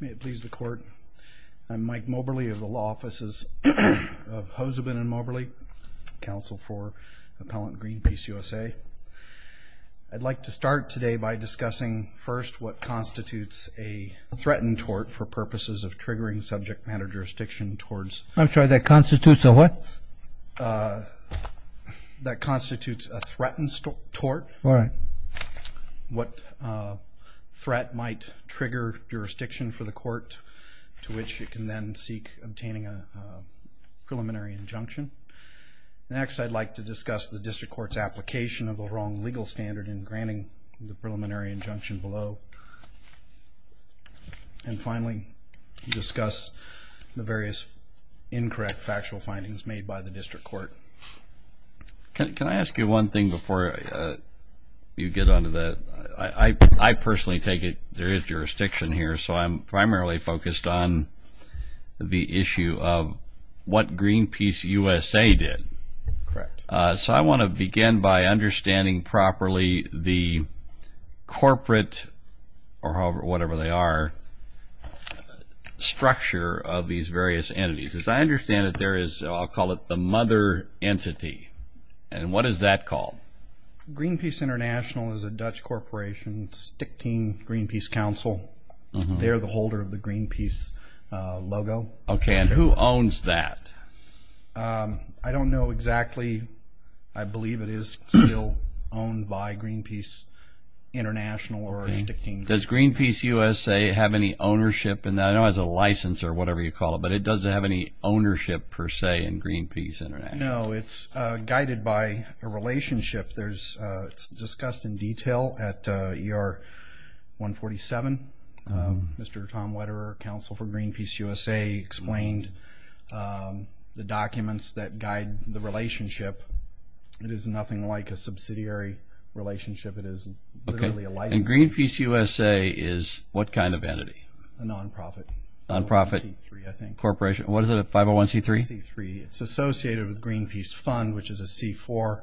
May it please the Court, I'm Mike Moberly of the Law Offices of Hozobin & Moberly, Counsel for Appellant Greenpeace USA. I'd like to start today by discussing first what constitutes a threatened tort for purposes of triggering subject matter jurisdiction towards... I'm sorry, that constitutes a what? That constitutes a jurisdiction for the court to which it can then seek obtaining a preliminary injunction. Next, I'd like to discuss the District Court's application of the wrong legal standard in granting the preliminary injunction below. And finally, discuss the various incorrect factual findings made by the District Court. Can I ask you one thing before you get onto that? I personally take it there is jurisdiction here, so I'm primarily focused on the issue of what Greenpeace USA did. Correct. So I want to begin by understanding properly the corporate, or whatever they are, structure of these various entities. As I understand it, there is, I'll call it the mother entity. And what is that called? Greenpeace International is a Dutch corporation, Stichting Greenpeace Council. They're the holder of the Greenpeace logo. Okay, and who owns that? I don't know exactly. I believe it is still owned by Greenpeace International or Stichting. Does Greenpeace USA have any ownership in that? I know it has a license or whatever you call it, but it doesn't have any ownership per se in Greenpeace International. No, it's guided by a license. It's discussed in detail at ER 147. Mr. Tom Wetterer, counsel for Greenpeace USA, explained the documents that guide the relationship. It is nothing like a subsidiary relationship. It is literally a license. Okay, and Greenpeace USA is what kind of entity? A non-profit. Non-profit. 501c3, I think. Corporation. What is it? 501c3? 501c3. It's associated with Greenpeace Fund, which is a C4,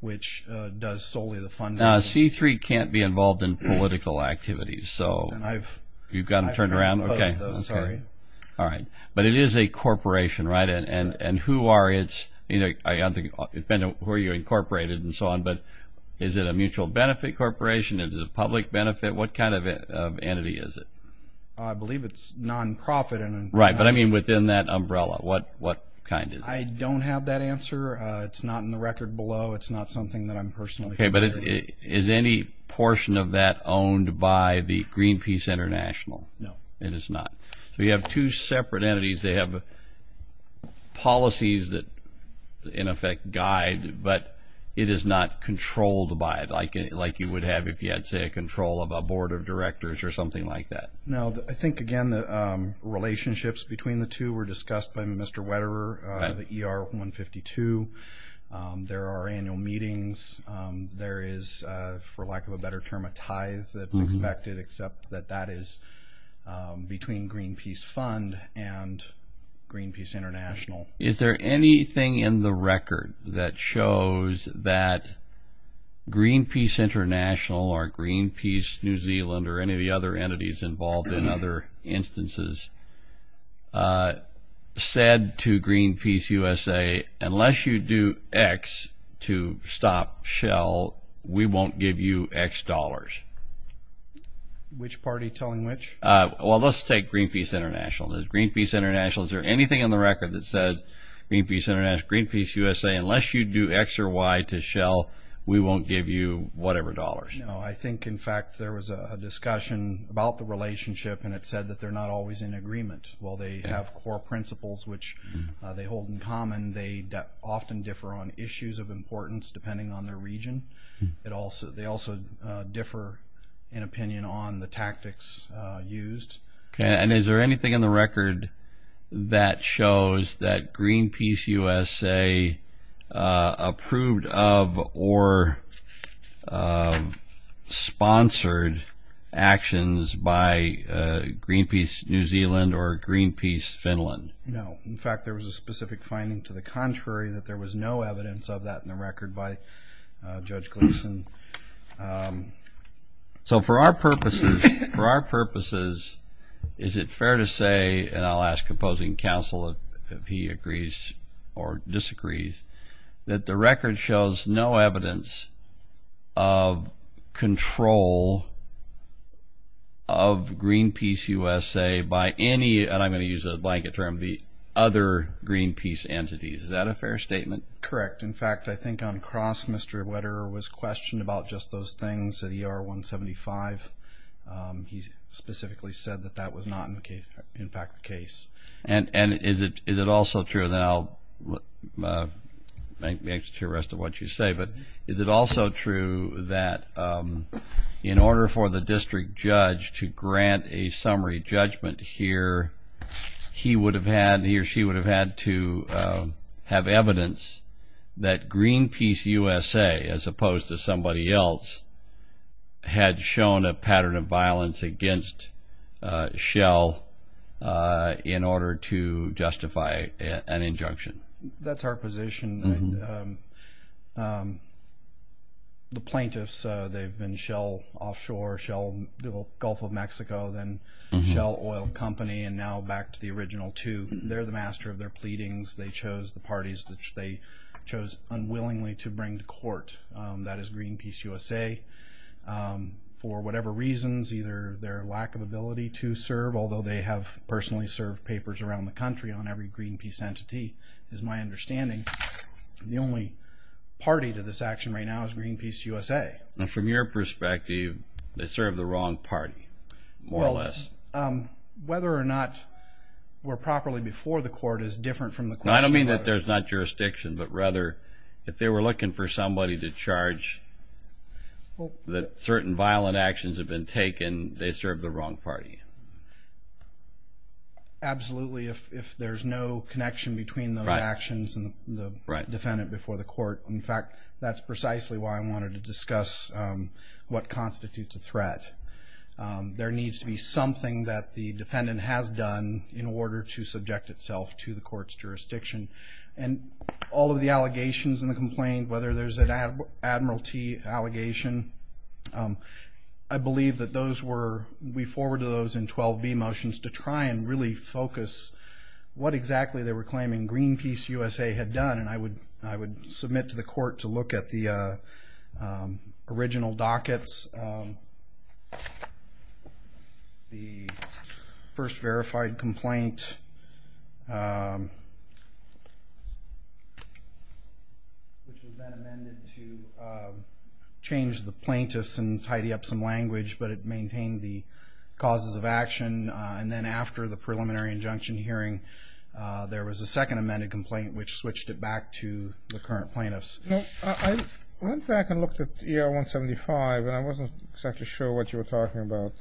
which does solely the funding. Now, C3 can't be involved in political activities, so you've got to turn around. Okay, sorry. All right, but it is a corporation, right? And who are its, you know, I don't think it depends on who you incorporated and so on, but is it a mutual benefit corporation? Is it a public benefit? What kind of entity is it? I believe it's non-profit. Right, but I mean within that umbrella, what kind is it? I don't have that answer. It's not in the record below. It's not something that I'm personally familiar with. Okay, but is any portion of that owned by the Greenpeace International? No. It is not. So you have two separate entities. They have policies that, in effect, guide, but it is not controlled by it, like you would have if you had, say, a control of a board of directors or something like that. No, I think, again, the 152 were discussed by Mr. Wetterer, the ER 152. There are annual meetings. There is, for lack of a better term, a tithe that's expected, except that that is between Greenpeace Fund and Greenpeace International. Is there anything in the record that shows that Greenpeace International or Greenpeace New Zealand or any of the other entities involved in other instances said to Greenpeace USA, unless you do X to stop Shell, we won't give you X dollars? Which party telling which? Well, let's take Greenpeace International. Does Greenpeace International, is there anything in the record that says Greenpeace International, Greenpeace USA, unless you do X or Y to Shell, we won't give you whatever dollars? No, I think, in fact, there was a discussion about the relationship, and it said that they're not always in agreement. While they have core principles, which they hold in common, they often differ on issues of importance, depending on their region. They also differ in opinion on the tactics used. Okay, and is there anything in the record that shows that Greenpeace USA approved of or sponsored actions by Greenpeace New Zealand or Greenpeace Finland? No, in fact, there was a specific finding to the contrary, that there was no evidence of that in the record by Judge Gleason. So, for our purposes, for our purposes, is it fair to say, and I'll ask opposing counsel if he agrees or disagrees, that the record shows no evidence of control of Greenpeace USA by any, and I'm going to use a blanket term, the other Greenpeace entities. Is that a fair statement? Correct. In fact, I think, on cross, Mr. Wetterer was questioned about just those things at ER-175. He specifically said that that was not, in fact, the case. And is it also true, and then I'll make the rest of what you say, but is it also true that in order for the district judge to grant a summary judgment here, he would have had, he or she would have had to have evidence that Greenpeace USA, as opposed to somebody else, had shown a pattern of violence against Shell in order to justify an injunction? That's our position. The plaintiffs, they've been Shell Offshore, Shell Gulf of Mexico, then Shell Oil Company, and now back to the original two. They're the master of their pleadings. They chose the parties that they chose unwillingly to bring to court. That is Greenpeace USA, for whatever reasons, either their lack of ability to serve, although they have personally served papers around the country on every Greenpeace entity, is my understanding. The only party to this action right now is Greenpeace USA. From your perspective, they serve the wrong party, more or less. Whether or not we're properly before the court is different from the question. I don't mean that there's not jurisdiction, but rather if they were looking for somebody to charge that certain violent actions have been taken, they serve the wrong party. Absolutely, if there's no connection between those actions and the defendant before the court. In fact, that's precisely why I wanted to discuss what constitutes a threat. There needs to be something that the defendant has done in order to subject itself to the court's jurisdiction. And all of the allegations in the complaint, whether there's an Admiralty allegation, I believe that those were, we forwarded those to the court, and they were subject to the court's jurisdiction. And I would submit to the court to look at the original dockets, the first verified complaint, which had been amended to change the plaintiffs and tidy up some language, but it maintained the causes of action. And then after the preliminary injunction hearing, there was a second amended complaint, which switched it back to the current plaintiffs. I went back and looked at ER 175, and I wasn't exactly sure what you were talking about.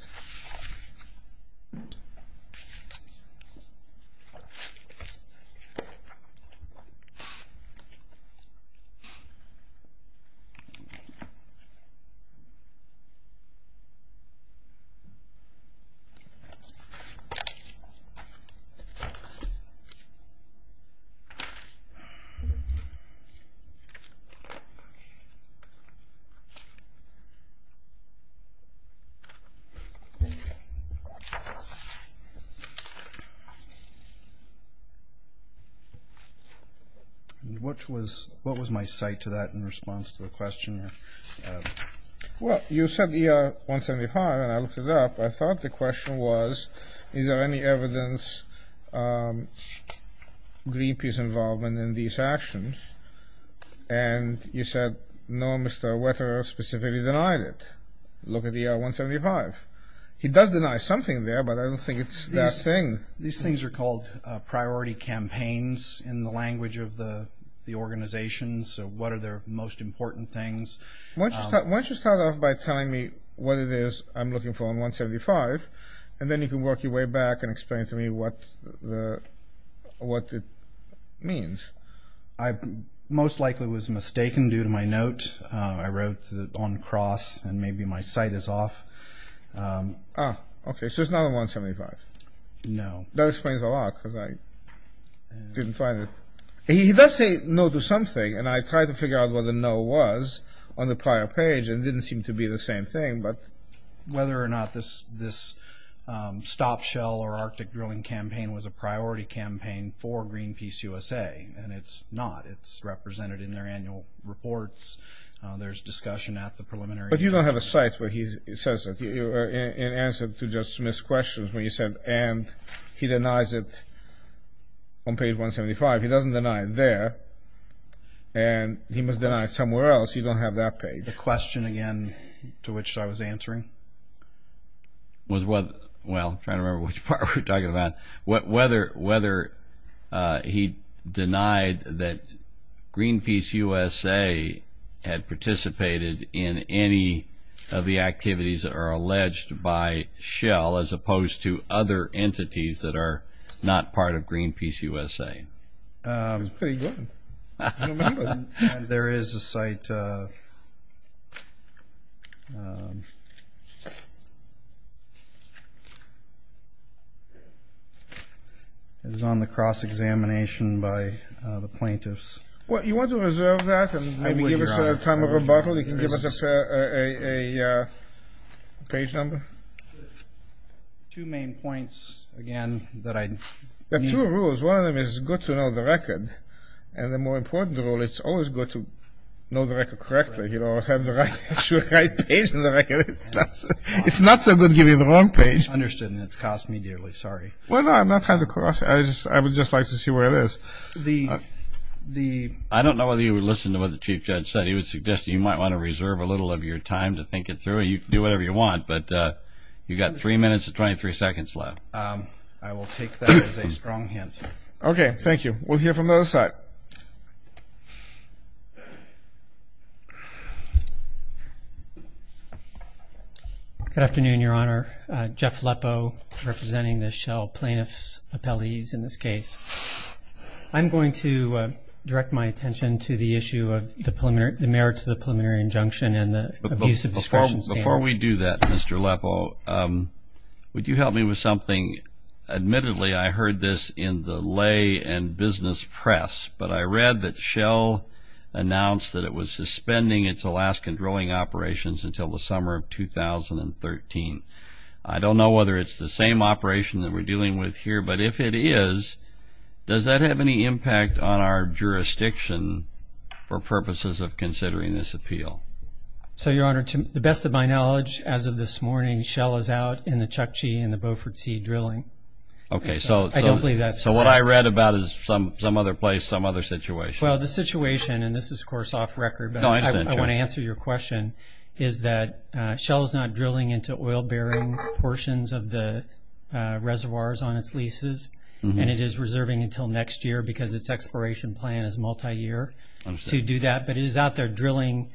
Which was, what was my site to that in response to the question? Well, you said ER 175, and I looked it up. I thought the question was, is there any evidence of Greenpeace involvement in these actions? And you said, no, Mr. Wetterer specifically denied it. Look at ER 175. He does deny something there, but I don't think it's that thing. These things are called priority campaigns in the language of the organization, so what are their most important things? Why don't you start off by telling me what it is I'm looking for in 175, and then you can work your way back and explain to me what it means. I most likely was mistaken due to my note. I wrote on cross, and maybe my site is off. Ah, okay, so it's not on 175. No. That explains a lot, because I didn't find it. He does say no to something, and I tried to figure out what the no was on the prior page, and it didn't seem to be the same thing, but... Whether or not this stop shell or arctic drilling campaign was a priority campaign for Greenpeace USA, and it's not. It's represented in their annual reports. There's discussion at the preliminary... But you don't have a site where he says it, in answer to Judge Smith's questions, where he said, and he denies it on page 175. He doesn't deny it there, and he must deny it somewhere else. You don't have that page. The question, again, to which I was answering? Well, I'm trying to remember which part we're talking about. Whether he denied that Greenpeace USA had participated in any of the activities that are alleged by shell, as opposed to other entities that are not part of Greenpeace USA. She was pretty good. There is a site... It was on the cross-examination by the plaintiffs. Well, you want to reserve that, and maybe give us a time of rebuttal? You can give us a page number? Two main points, again, that I... There are two rules. One of them is, it's good to know the record, and the more important rule, it's always good to know the record correctly, you know, have the right page in the record. It's not so good giving the wrong page. Understood, and it's cost me dearly. Sorry. Well, I'm not trying to coerce you. I would just like to see where it is. I don't know whether you would listen to what the Chief Judge said. He was suggesting you might want to reserve a little of your time to think it through. You can do whatever you want, but you've got three minutes and 23 seconds left. I will take that as a strong hint. Okay, thank you. We'll hear from the other side. Good afternoon, Your Honor. Jeff Lepo, representing the Shell plaintiffs' appellees in this case. I'm going to direct my attention to the issue of the merits of the preliminary injunction and the abuse of discretion standard. Before we do that, Mr. Lepo, would you help me with something? Admittedly, I heard this in the lay and business press, but I read that Shell announced that it was suspending its Alaskan drilling operations until the summer of 2013. I don't know whether it's the same operation that we're dealing with here, but if it is, does that have any impact on our jurisdiction for purposes of considering this appeal? So, Your Honor, to the best of my knowledge, as of this morning, Shell is out in the Chukchi and the Beaufort Sea drilling. Okay, so what I read about is some other place, some other situation. Well, the situation, and this is, of course, off record, but I want to answer your question, is that Shell is not drilling into oil bearing portions of the reservoirs on its leases, and it is reserving until next year because its exploration plan is multiyear to do that. But it is out there drilling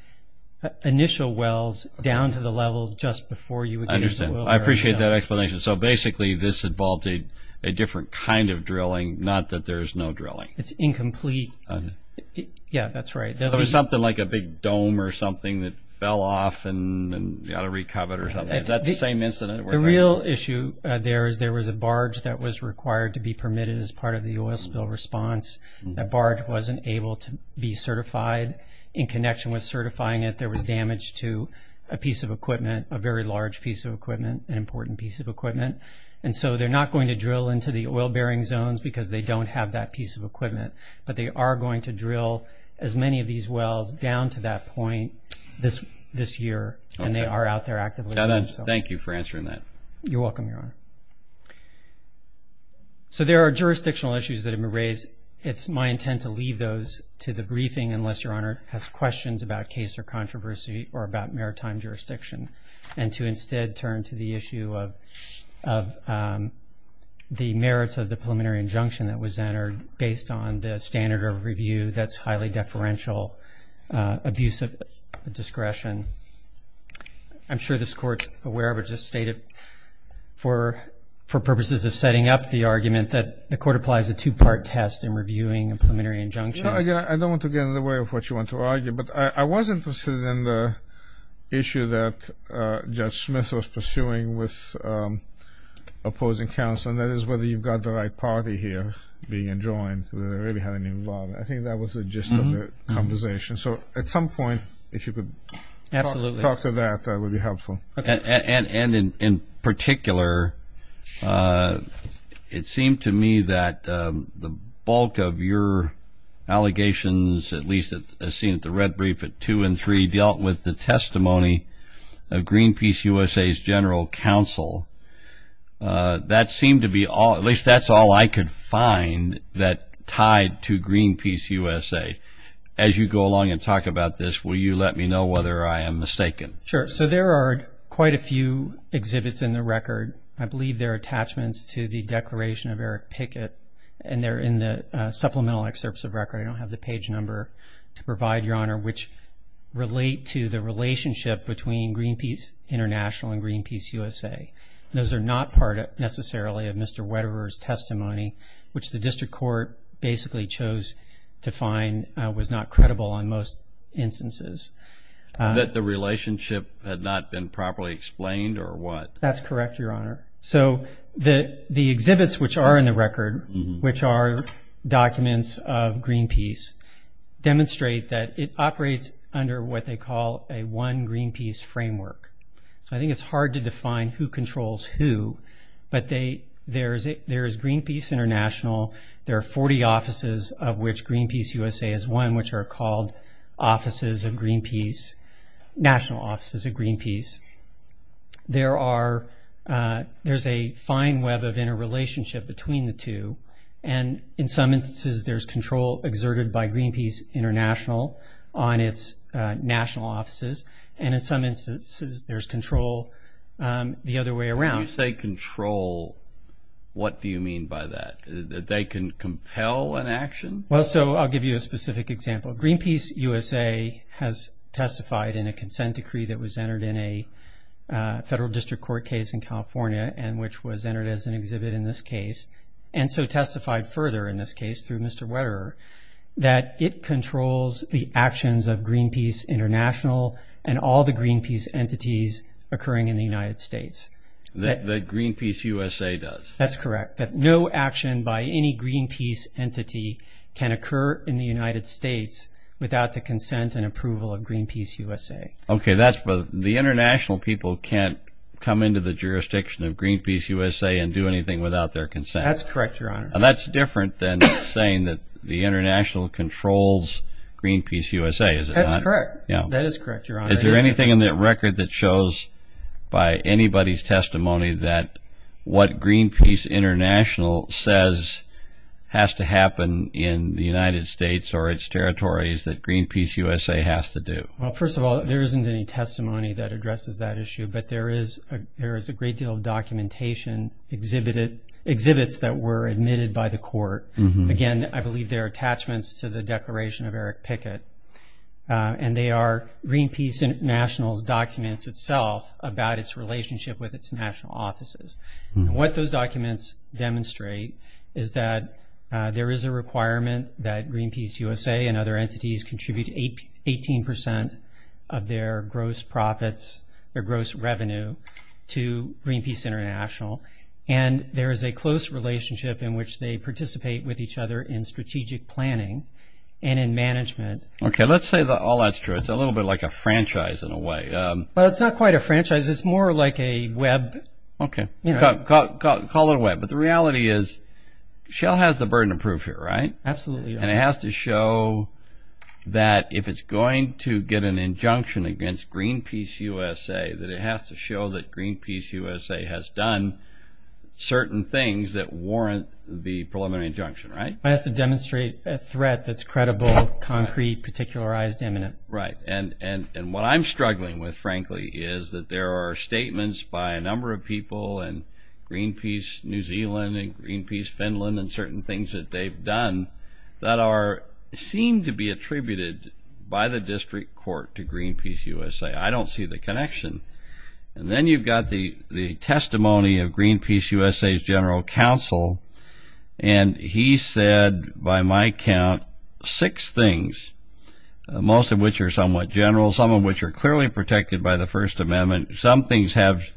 initial wells down to the level just before you would get into the oil bearing zone. I understand. I appreciate that explanation. So, basically, this involved a different kind of drilling, not that there's no drilling. It's incomplete. Yeah, that's right. There was something like a big dome or something that fell off and you had to recover it or something. Is that the same incident? The real issue there is there was a barge that was required to be permitted as part of the oil spill response. That barge wasn't able to be certified. In connection with certifying it, there was damage to a piece of equipment, a very large piece of equipment, an important piece of equipment. And so they're not going to drill into the oil bearing zones because they don't have that piece of equipment, but they are going to drill as many of these wells down to that point this year, and they are out there actively doing so. Thank you for answering that. You're welcome, Your Honor. So there are jurisdictional issues that have been raised. It's my intent to leave those to the briefing unless Your Honor has questions about case or controversy or about maritime jurisdiction, and to instead turn to the issue of the merits of the preliminary injunction that was entered based on the standard of review that's highly deferential, abusive discretion. I'm sure this Court's aware of it, just stated for purposes of setting up the argument that the Court applies a two-part test in reviewing a preliminary injunction. I don't want to get in the way of what you want to argue, but I was interested in the issue that Judge Smith was pursuing with opposing counsel, and that is whether you've got the right party here being enjoined, whether they really had any involvement. I think that was the gist of the conversation. So at some point, if you could talk to that, that would be helpful. Absolutely. And in particular, it seemed to me that the bulk of your allegations, at least as seen at the red brief at two and three, dealt with the testimony of Greenpeace USA's general counsel. That seemed to be all, at least that's all I could find that tied to Greenpeace USA. As you go along and talk about this, will you let me know whether I am mistaken? Sure. So there are quite a few exhibits in the record. I believe they're attachments to the declaration of Eric Pickett, and they're in the supplemental excerpts of record. I don't have the page number to provide, Your Honor, which relate to the relationship between Greenpeace International and Greenpeace USA. Which the district court basically chose to find was not credible in most instances. That the relationship had not been properly explained or what? That's correct, Your Honor. So the exhibits which are in the record, which are documents of Greenpeace, demonstrate that it operates under what they call a one Greenpeace framework. So I think it's hard to define who controls who, but there is Greenpeace International, there are 40 offices of which Greenpeace USA is one, which are called offices of Greenpeace, national offices of Greenpeace. There's a fine web of interrelationship between the two, and in some instances there's control exerted by Greenpeace International on its national offices, and in some instances there's control the other way around. When you say control, what do you mean by that? That they can compel an action? Well, so I'll give you a specific example. Greenpeace USA has testified in a consent decree that was entered in a federal district court case in California, and which was entered as an exhibit in this case, and so testified further in this case through Mr. Wetterer, that it controls the actions of Greenpeace International and all the Greenpeace entities occurring in the United States. That Greenpeace USA does? That's correct. That no action by any Greenpeace entity can occur in the United States without the consent and approval of Greenpeace USA. Okay, the international people can't come into the jurisdiction of Greenpeace USA and do anything without their consent. That's correct, Your Honor. And that's different than saying that the international controls Greenpeace USA, is it not? That's correct. That is correct, Your Honor. Is there anything in that record that shows by anybody's testimony that what Greenpeace International says has to happen in the United States or its territories that Greenpeace USA has to do? Well, first of all, there isn't any testimony that addresses that issue, but there is a great deal of documentation, exhibits that were admitted by the court. Again, I believe they're attachments to the declaration of Eric Pickett, and they are Greenpeace International's documents itself about its relationship with its national offices. What those documents demonstrate is that there is a requirement that Greenpeace USA and other entities contribute 18% of their gross profits, their gross revenue to Greenpeace International, and there is a close relationship in which they participate with each other in strategic planning and in management. Okay, let's say all that's true. It's a little bit like a franchise in a way. Well, it's not quite a franchise. It's more like a web. Okay, call it a web. But the reality is Shell has the burden of proof here, right? Absolutely, Your Honor. And it has to show that if it's going to get an injunction against Greenpeace USA, that it has to show that Greenpeace USA has done certain things that warrant the preliminary injunction, right? It has to demonstrate a threat that's credible, concrete, particularized, imminent. Right, and what I'm struggling with, frankly, is that there are statements by a number of people in Greenpeace New Zealand and Greenpeace Finland and certain things that they've done that seem to be attributed by the district court to Greenpeace USA. I don't see the connection. And then you've got the testimony of Greenpeace USA's general counsel, and he said, by my count, six things, most of which are somewhat general, some of which are clearly protected by the First Amendment. Some things have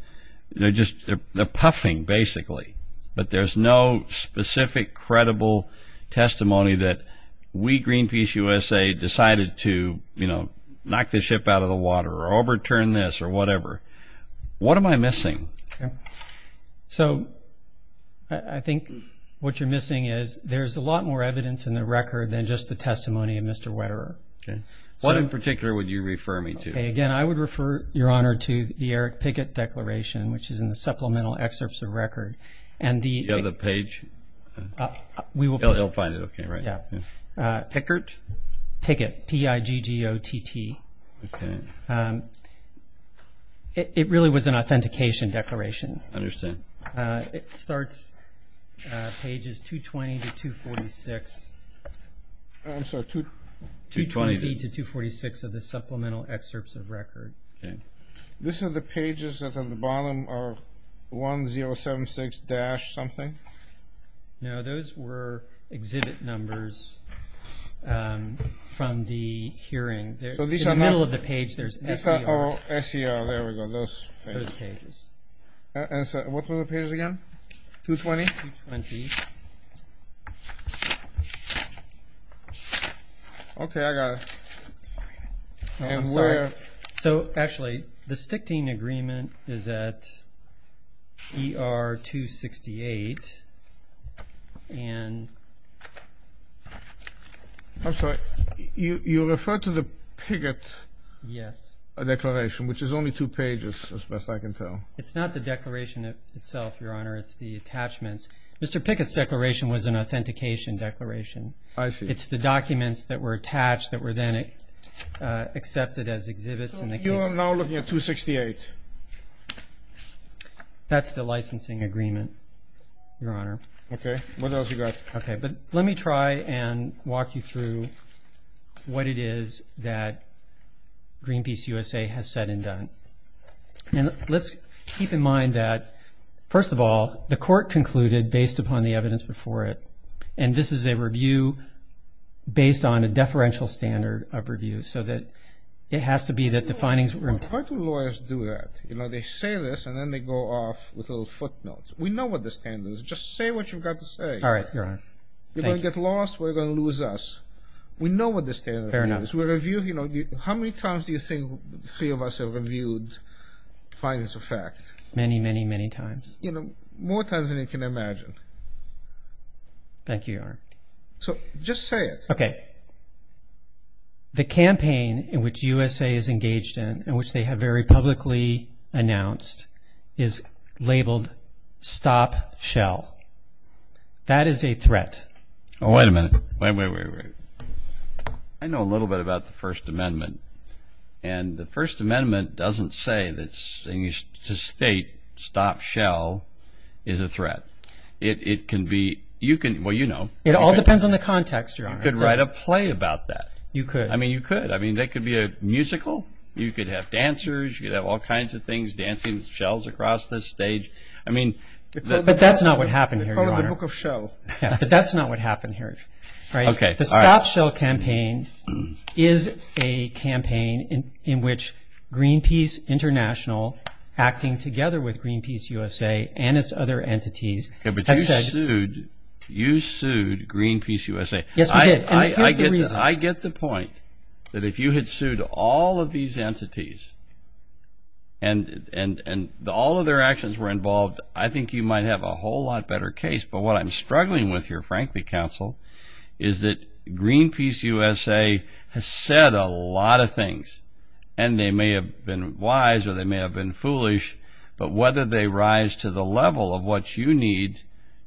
just a puffing, basically, but there's no specific credible testimony that we, Greenpeace USA, decided to knock the ship out of the water or overturn this or whatever. What am I missing? So I think what you're missing is there's a lot more evidence in the record than just the testimony of Mr. Wetterer. What in particular would you refer me to? Again, I would refer, Your Honor, to the Eric Pickett Declaration, which is in the Supplemental Excerpts of Record. Do you have the page? He'll find it, okay, right. Pickett? Pickett, P-I-G-G-O-T-T. Okay. It really was an authentication declaration. I understand. It starts pages 220 to 246. I'm sorry, 220? 220 to 246 of the Supplemental Excerpts of Record. These are the pages that's on the bottom of 1076-something? No, those were exhibit numbers from the hearing. In the middle of the page, there's S-E-R. Oh, S-E-R, there we go, those pages. Those pages. What were the pages again? 220? 220. Okay, I got it. I'm sorry. So, actually, the Stichting Agreement is at E-R-268. I'm sorry, you referred to the Pickett Declaration, which is only two pages as best I can tell. It's not the declaration itself, Your Honor, it's the attachments. Mr. Pickett's declaration was an authentication declaration. I see. It's the documents that were attached that were then accepted as exhibits in the case. So you are now looking at 268? That's the licensing agreement, Your Honor. Okay. What else you got? Okay, but let me try and walk you through what it is that Greenpeace USA has said and done. And let's keep in mind that, first of all, the court concluded, based upon the evidence before it, and this is a review based on a deferential standard of review, so that it has to be that the findings were important. Why do lawyers do that? You know, they say this, and then they go off with little footnotes. We know what the standard is. Just say what you've got to say. All right, Your Honor. Thank you. You're going to get lost. We're going to lose us. We know what the standard is. Fair enough. How many times do you think three of us have reviewed findings of fact? Many, many, many times. You know, more times than you can imagine. Thank you, Your Honor. So just say it. Okay. The campaign in which USA is engaged in and which they have very publicly announced is labeled Stop Shell. That is a threat. Oh, wait a minute. Wait, wait, wait, wait. I know a little bit about the First Amendment. And the First Amendment doesn't say that to state Stop Shell is a threat. It can be. Well, you know. It all depends on the context, Your Honor. You could write a play about that. You could. I mean, you could. I mean, that could be a musical. You could have dancers. You could have all kinds of things, dancing shells across the stage. I mean. But that's not what happened here, Your Honor. It's part of the book of Shell. But that's not what happened here, right? Okay. The Stop Shell campaign is a campaign in which Greenpeace International, acting together with Greenpeace USA and its other entities, has said. But you sued Greenpeace USA. Yes, we did. And here's the reason. I get the point that if you had sued all of these entities and all of their actions were involved, I think you might have a whole lot better case. But what I'm struggling with here, frankly, Counsel, is that Greenpeace USA has said a lot of things. And they may have been wise or they may have been foolish, but whether they rise to the level of what you need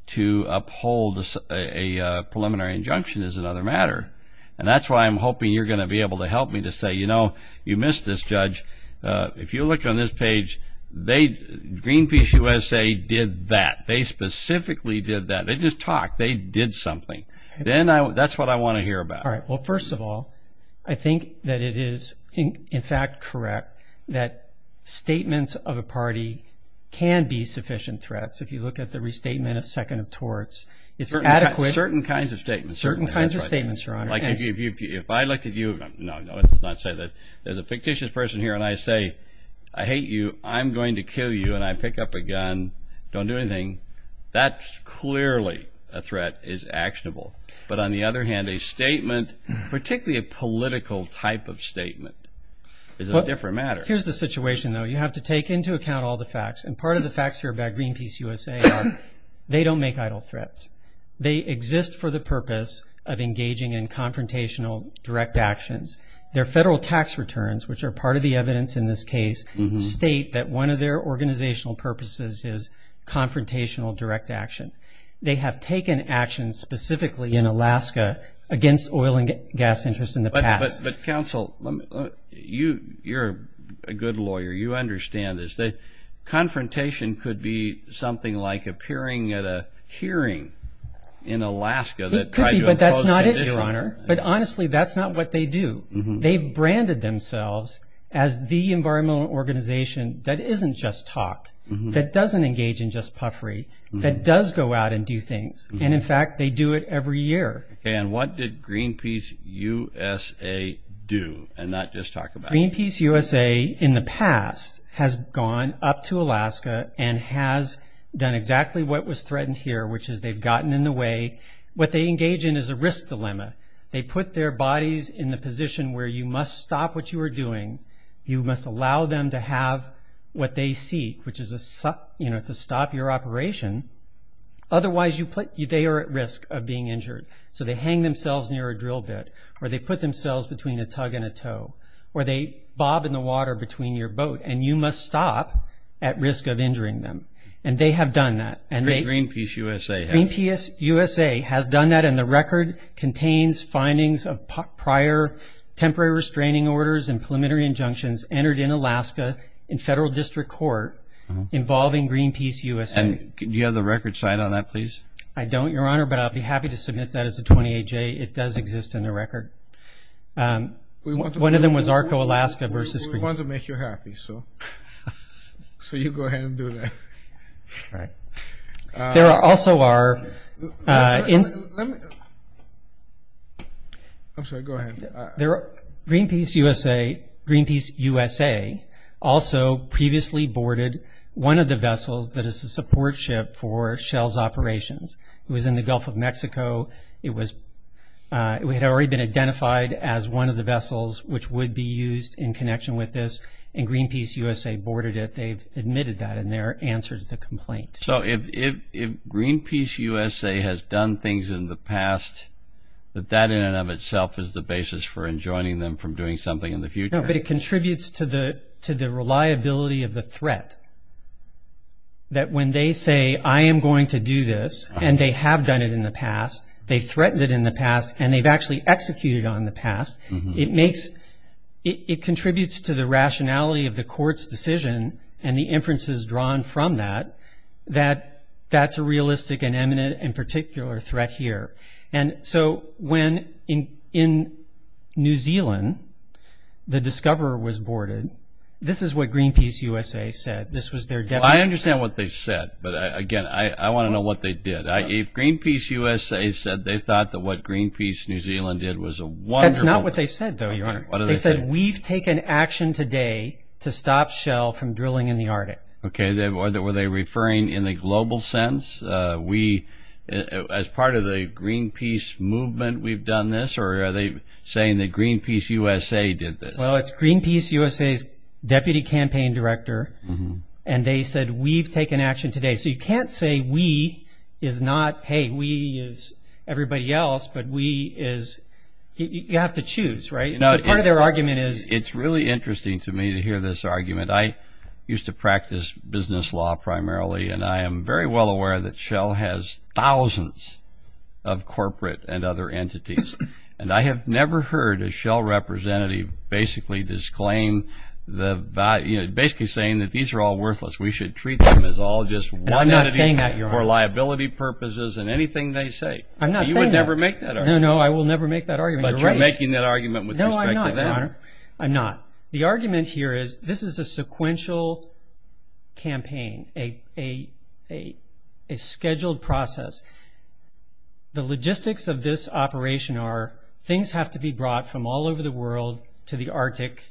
to uphold a preliminary injunction is another matter. And that's why I'm hoping you're going to be able to help me to say, you know, you missed this, Judge. If you look on this page, Greenpeace USA did that. They specifically did that. They just talked. They did something. That's what I want to hear about. All right. Well, first of all, I think that it is, in fact, correct that statements of a party can be sufficient threats. If you look at the restatement of second of torts, it's adequate. Certain kinds of statements. Certain kinds of statements, Your Honor. If I look at you, no, no, let's not say that. There's a fictitious person here and I say, I hate you, I'm going to kill you, and I pick up a gun. Don't do anything. That's clearly a threat is actionable. But on the other hand, a statement, particularly a political type of statement, is a different matter. Here's the situation, though. You have to take into account all the facts, and part of the facts here about Greenpeace USA are they don't make idle threats. They exist for the purpose of engaging in confrontational direct actions. Their federal tax returns, which are part of the evidence in this case, state that one of their organizational purposes is confrontational direct action. They have taken action specifically in Alaska against oil and gas interests in the past. But, counsel, you're a good lawyer. You understand this. Confrontation could be something like appearing at a hearing in Alaska that tried to oppose that. It could be, but that's not it, Your Honor. But, honestly, that's not what they do. They've branded themselves as the environmental organization that isn't just talk, that doesn't engage in just puffery, that does go out and do things, and, in fact, they do it every year. And what did Greenpeace USA do and not just talk about it? Greenpeace USA in the past has gone up to Alaska and has done exactly what was threatened here, which is they've gotten in the way. What they engage in is a risk dilemma. They put their bodies in the position where you must stop what you are doing. You must allow them to have what they seek, which is to stop your operation. Otherwise, they are at risk of being injured. So they hang themselves near a drill bit, or they put themselves between a tug and a tow, or they bob in the water between your boat, and you must stop at risk of injuring them. And they have done that. And Greenpeace USA has. Greenpeace USA has done that, and the record contains findings of prior temporary restraining orders and preliminary injunctions entered in Alaska in federal district court involving Greenpeace USA. And do you have the record side on that, please? I don't, Your Honor, but I'll be happy to submit that as a 28-J. It does exist in the record. One of them was ARCO Alaska versus Greenpeace. We want to make you happy, so you go ahead and do that. All right. There also are. Let me. I'm sorry. Go ahead. Greenpeace USA also previously boarded one of the vessels that is a support ship for Shell's operations. It was in the Gulf of Mexico. It had already been identified as one of the vessels which would be used in connection with this, and Greenpeace USA boarded it. They've admitted that in their answer to the complaint. So if Greenpeace USA has done things in the past, that that in and of itself is the basis for enjoining them from doing something in the future? No, but it contributes to the reliability of the threat that when they say, I am going to do this, and they have done it in the past, they threatened it in the past, and they've actually executed on the past, it contributes to the rationality of the court's decision and the inferences drawn from that that that's a realistic and eminent and particular threat here. And so when in New Zealand the Discoverer was boarded, this is what Greenpeace USA said. I understand what they said, but, again, I want to know what they did. If Greenpeace USA said they thought that what Greenpeace New Zealand did was a wonderful thing. That's not what they said, though, Your Honor. They said we've taken action today to stop Shell from drilling in the Arctic. Okay, were they referring in a global sense, we as part of the Greenpeace movement we've done this, or are they saying that Greenpeace USA did this? Well, it's Greenpeace USA's deputy campaign director, and they said we've taken action today. So you can't say we is not, hey, we is everybody else, but we is, you have to choose, right? So part of their argument is. It's really interesting to me to hear this argument. I used to practice business law primarily, and I am very well aware that Shell has thousands of corporate and other entities, and I have never heard a Shell representative basically disclaim the value, basically saying that these are all worthless, we should treat them as all just one entity. And I'm not saying that, Your Honor. For liability purposes and anything they say. I'm not saying that. You will never make that argument. No, no, I will never make that argument. But you're making that argument with respect to them. No, I'm not, Your Honor. I'm not. The argument here is this is a sequential campaign, a scheduled process. The logistics of this operation are things have to be brought from all over the world to the Arctic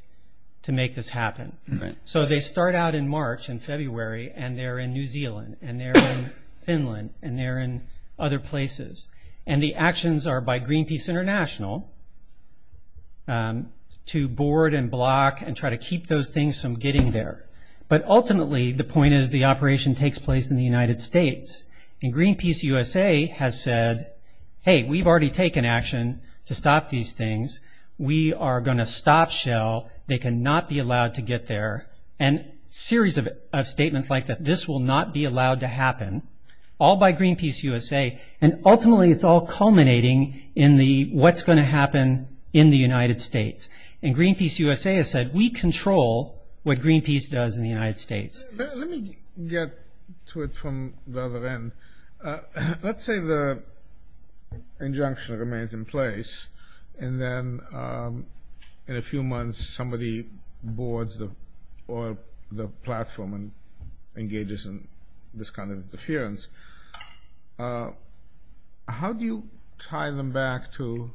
to make this happen. So they start out in March and February, and they're in New Zealand, and they're in Finland, and they're in other places. And the actions are by Greenpeace International to board and block and try to keep those things from getting there. But ultimately the point is the operation takes place in the United States, and Greenpeace USA has said, hey, we've already taken action to stop these things. We are going to stop Shell. They cannot be allowed to get there. And a series of statements like that, this will not be allowed to happen, all by Greenpeace USA. And ultimately it's all culminating in the what's going to happen in the United States. And Greenpeace USA has said, we control what Greenpeace does in the United States. Let me get to it from the other end. Let's say the injunction remains in place, and then in a few months somebody boards the platform and engages in this kind of interference. How do you tie them back to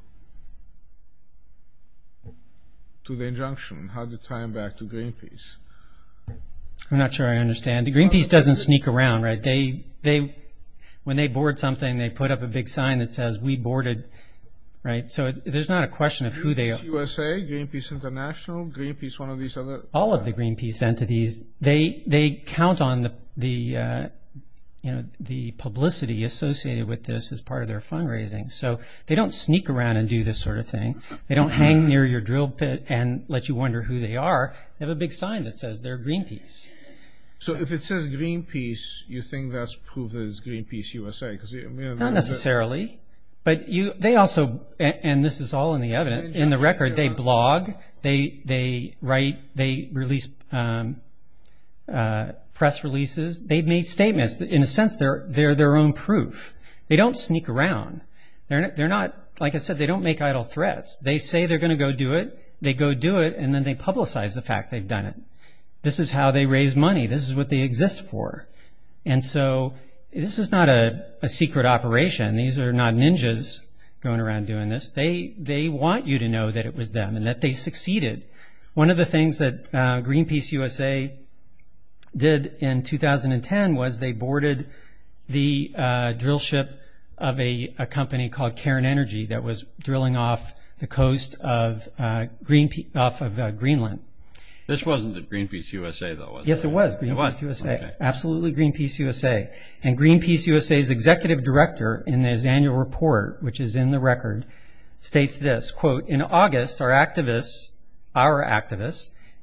the injunction? How do you tie them back to Greenpeace? I'm not sure I understand. Greenpeace doesn't sneak around, right? When they board something, they put up a big sign that says, we boarded. So there's not a question of who they are. Greenpeace USA, Greenpeace International, Greenpeace one of these other. All of the Greenpeace entities, they count on the publicity associated with this as part of their fundraising. So they don't sneak around and do this sort of thing. They don't hang near your drill pit and let you wonder who they are. They have a big sign that says they're Greenpeace. So if it says Greenpeace, you think that's proof that it's Greenpeace USA? Not necessarily, but they also, and this is all in the evidence, in the record they blog, they write, they release press releases. They've made statements. In a sense, they're their own proof. They don't sneak around. They're not, like I said, they don't make idle threats. They say they're going to go do it, they go do it, and then they publicize the fact they've done it. This is how they raise money. This is what they exist for. And so this is not a secret operation. These are not ninjas going around doing this. They want you to know that it was them and that they succeeded. One of the things that Greenpeace USA did in 2010 was they boarded the drill ship of a company called Karen Energy that was drilling off the coast of Greenland. This wasn't at Greenpeace USA, though, was it? Yes, it was Greenpeace USA, absolutely Greenpeace USA. And Greenpeace USA's executive director in his annual report, which is in the record, states this, quote, In August, our activists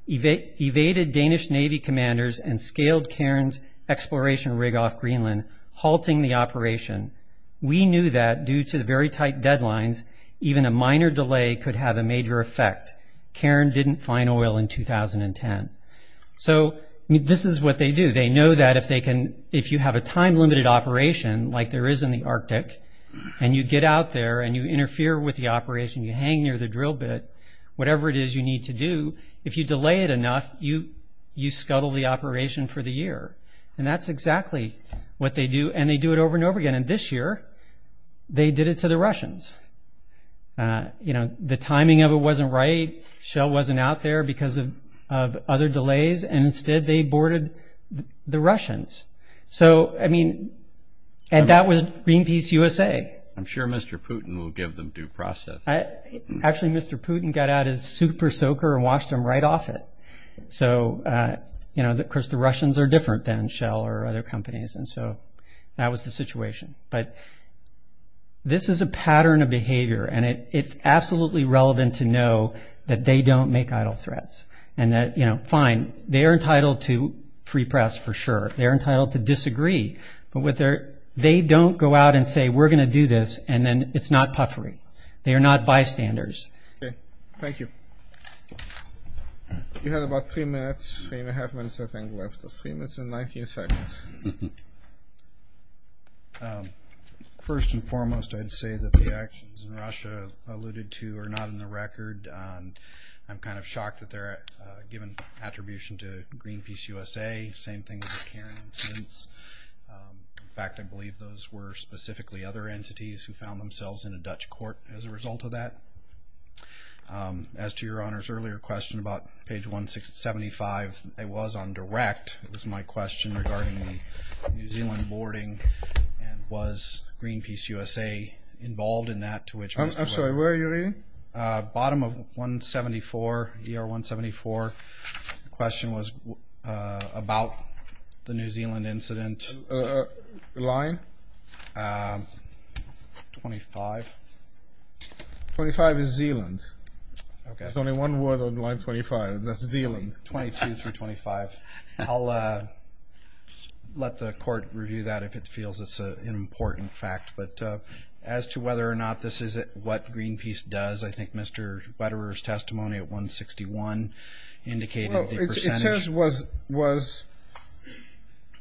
evaded Danish Navy commanders and scaled Karen's exploration rig off Greenland, halting the operation. We knew that, due to very tight deadlines, even a minor delay could have a major effect. Karen didn't find oil in 2010. So this is what they do. They know that if you have a time-limited operation like there is in the Arctic and you get out there and you interfere with the operation, you hang near the drill bit, whatever it is you need to do, if you delay it enough, you scuttle the operation for the year. And that's exactly what they do, and they do it over and over again. And this year they did it to the Russians. You know, the timing of it wasn't right. Shell wasn't out there because of other delays, and instead they boarded the Russians. So, I mean, and that was Greenpeace USA. I'm sure Mr. Putin will give them due process. Actually, Mr. Putin got out his super soaker and washed them right off it. So, you know, of course the Russians are different than Shell or other companies, and so that was the situation. But this is a pattern of behavior, and it's absolutely relevant to know that they don't make idle threats. And that, you know, fine, they are entitled to free press for sure. They are entitled to disagree. But they don't go out and say, we're going to do this, and then it's not puffery. They are not bystanders. Okay. Thank you. You have about three minutes, three and a half minutes, I think, left. Three minutes and 19 seconds. First and foremost, I'd say that the actions in Russia alluded to are not in the record. I'm kind of shocked that they're given attribution to Greenpeace USA. Same thing with the Karen incidents. In fact, I believe those were specifically other entities who found themselves in a Dutch court as a result of that. As to Your Honor's earlier question about page 175, it was on direct. It was my question regarding the New Zealand boarding. And was Greenpeace USA involved in that? I'm sorry, where are you reading? Bottom of 174, ER 174. The question was about the New Zealand incident. Line? 25. 25 is Zealand. Okay. There's only one word on line 25, and that's Zealand. 22 through 25. I'll let the court review that if it feels it's an important fact. But as to whether or not this is what Greenpeace does, I think Mr. Wetterer's testimony at 161 indicated the percentage. What he says was,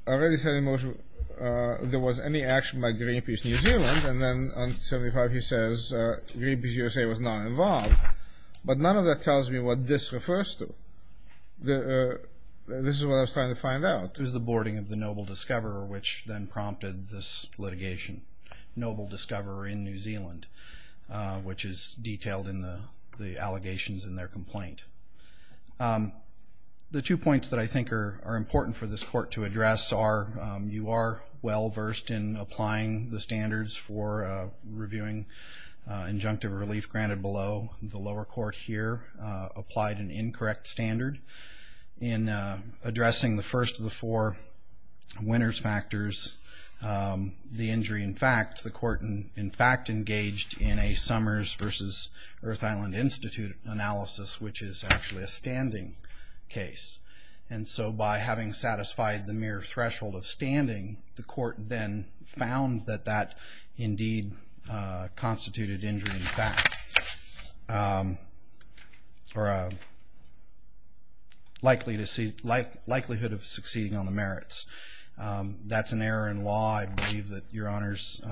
I already said in motion there was any action by Greenpeace New Zealand, and then on 75 he says Greenpeace USA was not involved. But none of that tells me what this refers to. This is what I was trying to find out. It was the boarding of the noble discoverer, which then prompted this litigation. Noble discoverer in New Zealand, which is detailed in the allegations in their complaint. The two points that I think are important for this court to address are, you are well-versed in applying the standards for reviewing injunctive relief granted below. The lower court here applied an incorrect standard. In addressing the first of the four winners factors, the injury in fact, the court in fact engaged in a Summers versus Earth Island Institute analysis, which is actually a standing case. And so by having satisfied the mere threshold of standing, the court then found that that indeed constituted injury in fact, or a likelihood of succeeding on the merits. That's an error in law. I believe that your honors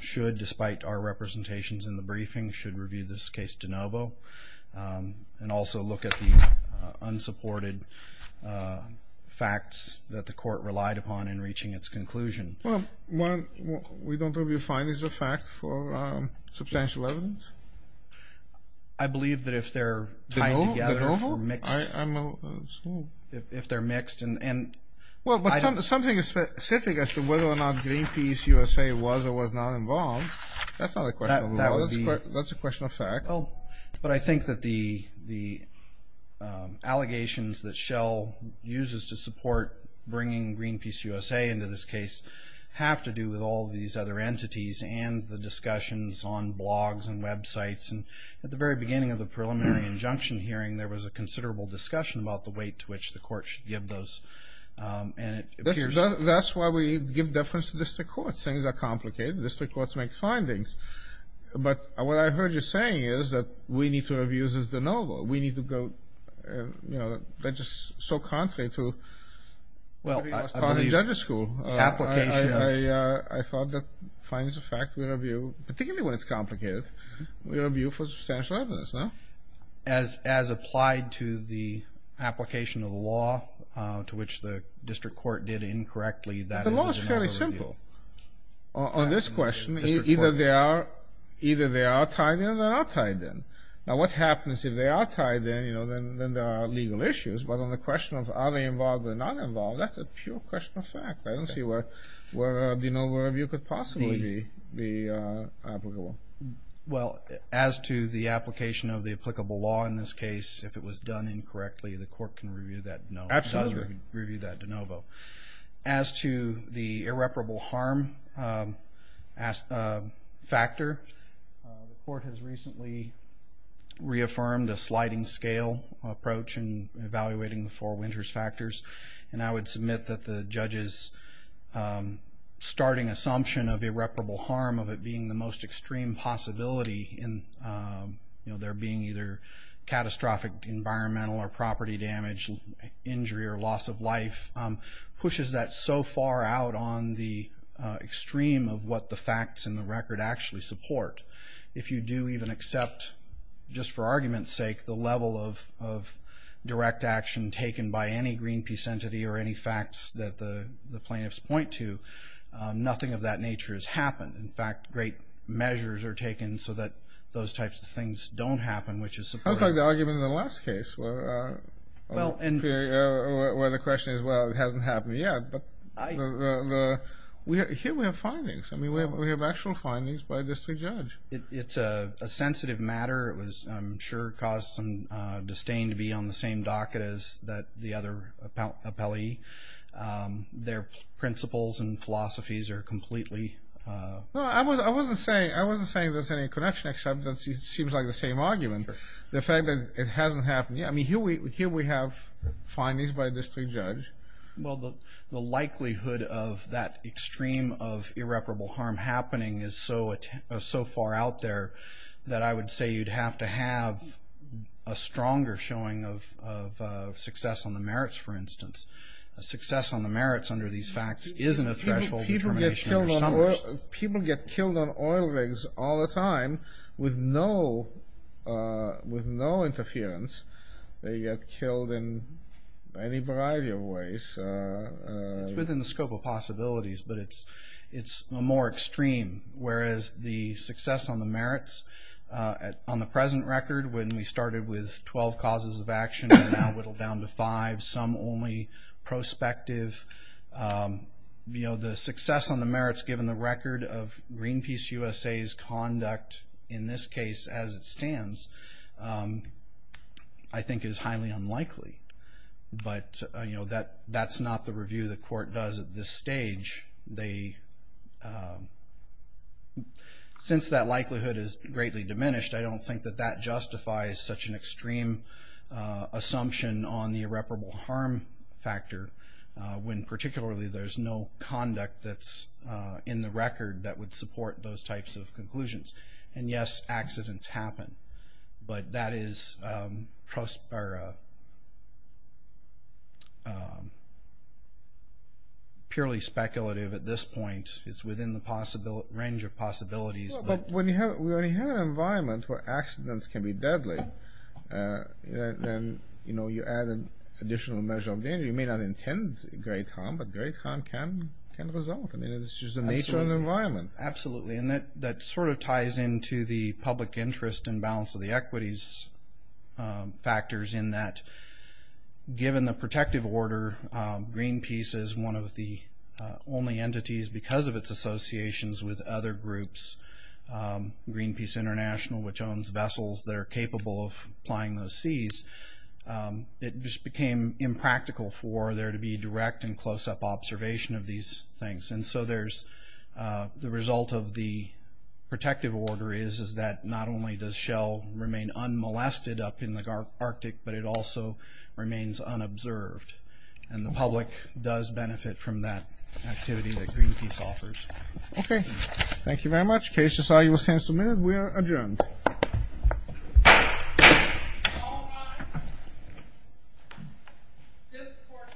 should, despite our representations in the briefing, should review this case de novo. And also look at the unsupported facts that the court relied upon in reaching its conclusion. Well, we don't review findings of fact for substantial evidence? I believe that if they're tied together for mixed. If they're mixed. Well, but something specific as to whether or not Greenpeace USA was or was not involved, that's not a question of law, that's a question of fact. But I think that the allegations that Shell uses to support bringing Greenpeace USA into this case have to do with all these other entities and the discussions on blogs and websites. And at the very beginning of the preliminary injunction hearing, there was a considerable discussion about the weight to which the court should give those. And it appears. That's why we give deference to district courts. Things are complicated. District courts make findings. But what I heard you saying is that we need to review this de novo. We need to go, you know, that's just so contrary to. Well, I believe. Judges school. Applications. I thought the findings of fact we review, particularly when it's complicated, we review for substantial evidence, no? As applied to the application of the law to which the district court did incorrectly, that is a de novo review. But the law is fairly simple. On this question, either they are tied in or they're not tied in. Now, what happens if they are tied in, you know, then there are legal issues. But on the question of are they involved or not involved, that's a pure question of fact. I don't see where a de novo review could possibly be applicable. Well, as to the application of the applicable law in this case, if it was done incorrectly, the court can review that de novo. Absolutely. It does review that de novo. As to the irreparable harm factor, the court has recently reaffirmed a sliding scale approach in evaluating the four winters factors. And I would submit that the judge's starting assumption of irreparable harm, of it being the most extreme possibility in there being either catastrophic environmental or property damage, injury or loss of life, pushes that so far out on the extreme of what the facts in the record actually support. If you do even accept, just for argument's sake, the level of direct action taken by any Greenpeace entity or any facts that the plaintiffs point to, nothing of that nature has happened. In fact, great measures are taken so that those types of things don't happen, which is supportive. That's like the argument in the last case where the question is, well, it hasn't happened yet. But here we have findings. I mean, we have actual findings by a district judge. It's a sensitive matter. It was, I'm sure, caused some disdain to be on the same docket as the other appellee. Their principles and philosophies are completely- Well, I wasn't saying there's any connection, except that it seems like the same argument. The fact that it hasn't happened yet. I mean, here we have findings by a district judge. Well, the likelihood of that extreme of irreparable harm happening is so far out there that I would say you'd have to have a stronger showing of success on the merits, for instance. Success on the merits under these facts isn't a threshold determination under Summers. People get killed on oil rigs all the time with no interference. They get killed in any variety of ways. It's within the scope of possibilities, but it's more extreme. Whereas the success on the merits on the present record, when we started with 12 causes of action and now whittled down to five, some only prospective. You know, the success on the merits given the record of Greenpeace USA's conduct, in this case as it stands, I think is highly unlikely. But, you know, that's not the review the court does at this stage. Since that likelihood is greatly diminished, I don't think that that justifies such an extreme assumption on the irreparable harm factor, when particularly there's no conduct that's in the record that would support those types of conclusions. And, yes, accidents happen. But that is purely speculative at this point. It's within the range of possibilities. But when you have an environment where accidents can be deadly, then, you know, you add an additional measure of danger. You may not intend great harm, but great harm can result. I mean, it's just the nature of the environment. Absolutely. And that sort of ties into the public interest and balance of the equities factors in that, given the protective order, Greenpeace is one of the only entities, because of its associations with other groups, Greenpeace International, which owns vessels that are capable of plying those seas, it just became impractical for there to be direct and close-up observation of these things. And so there's the result of the protective order is that not only does Shell remain unmolested up in the Arctic, but it also remains unobserved. And the public does benefit from that activity that Greenpeace offers. Okay. Thank you very much. The case to say you were sent is submitted. We are adjourned. All rise. This court for this session stands adjourned.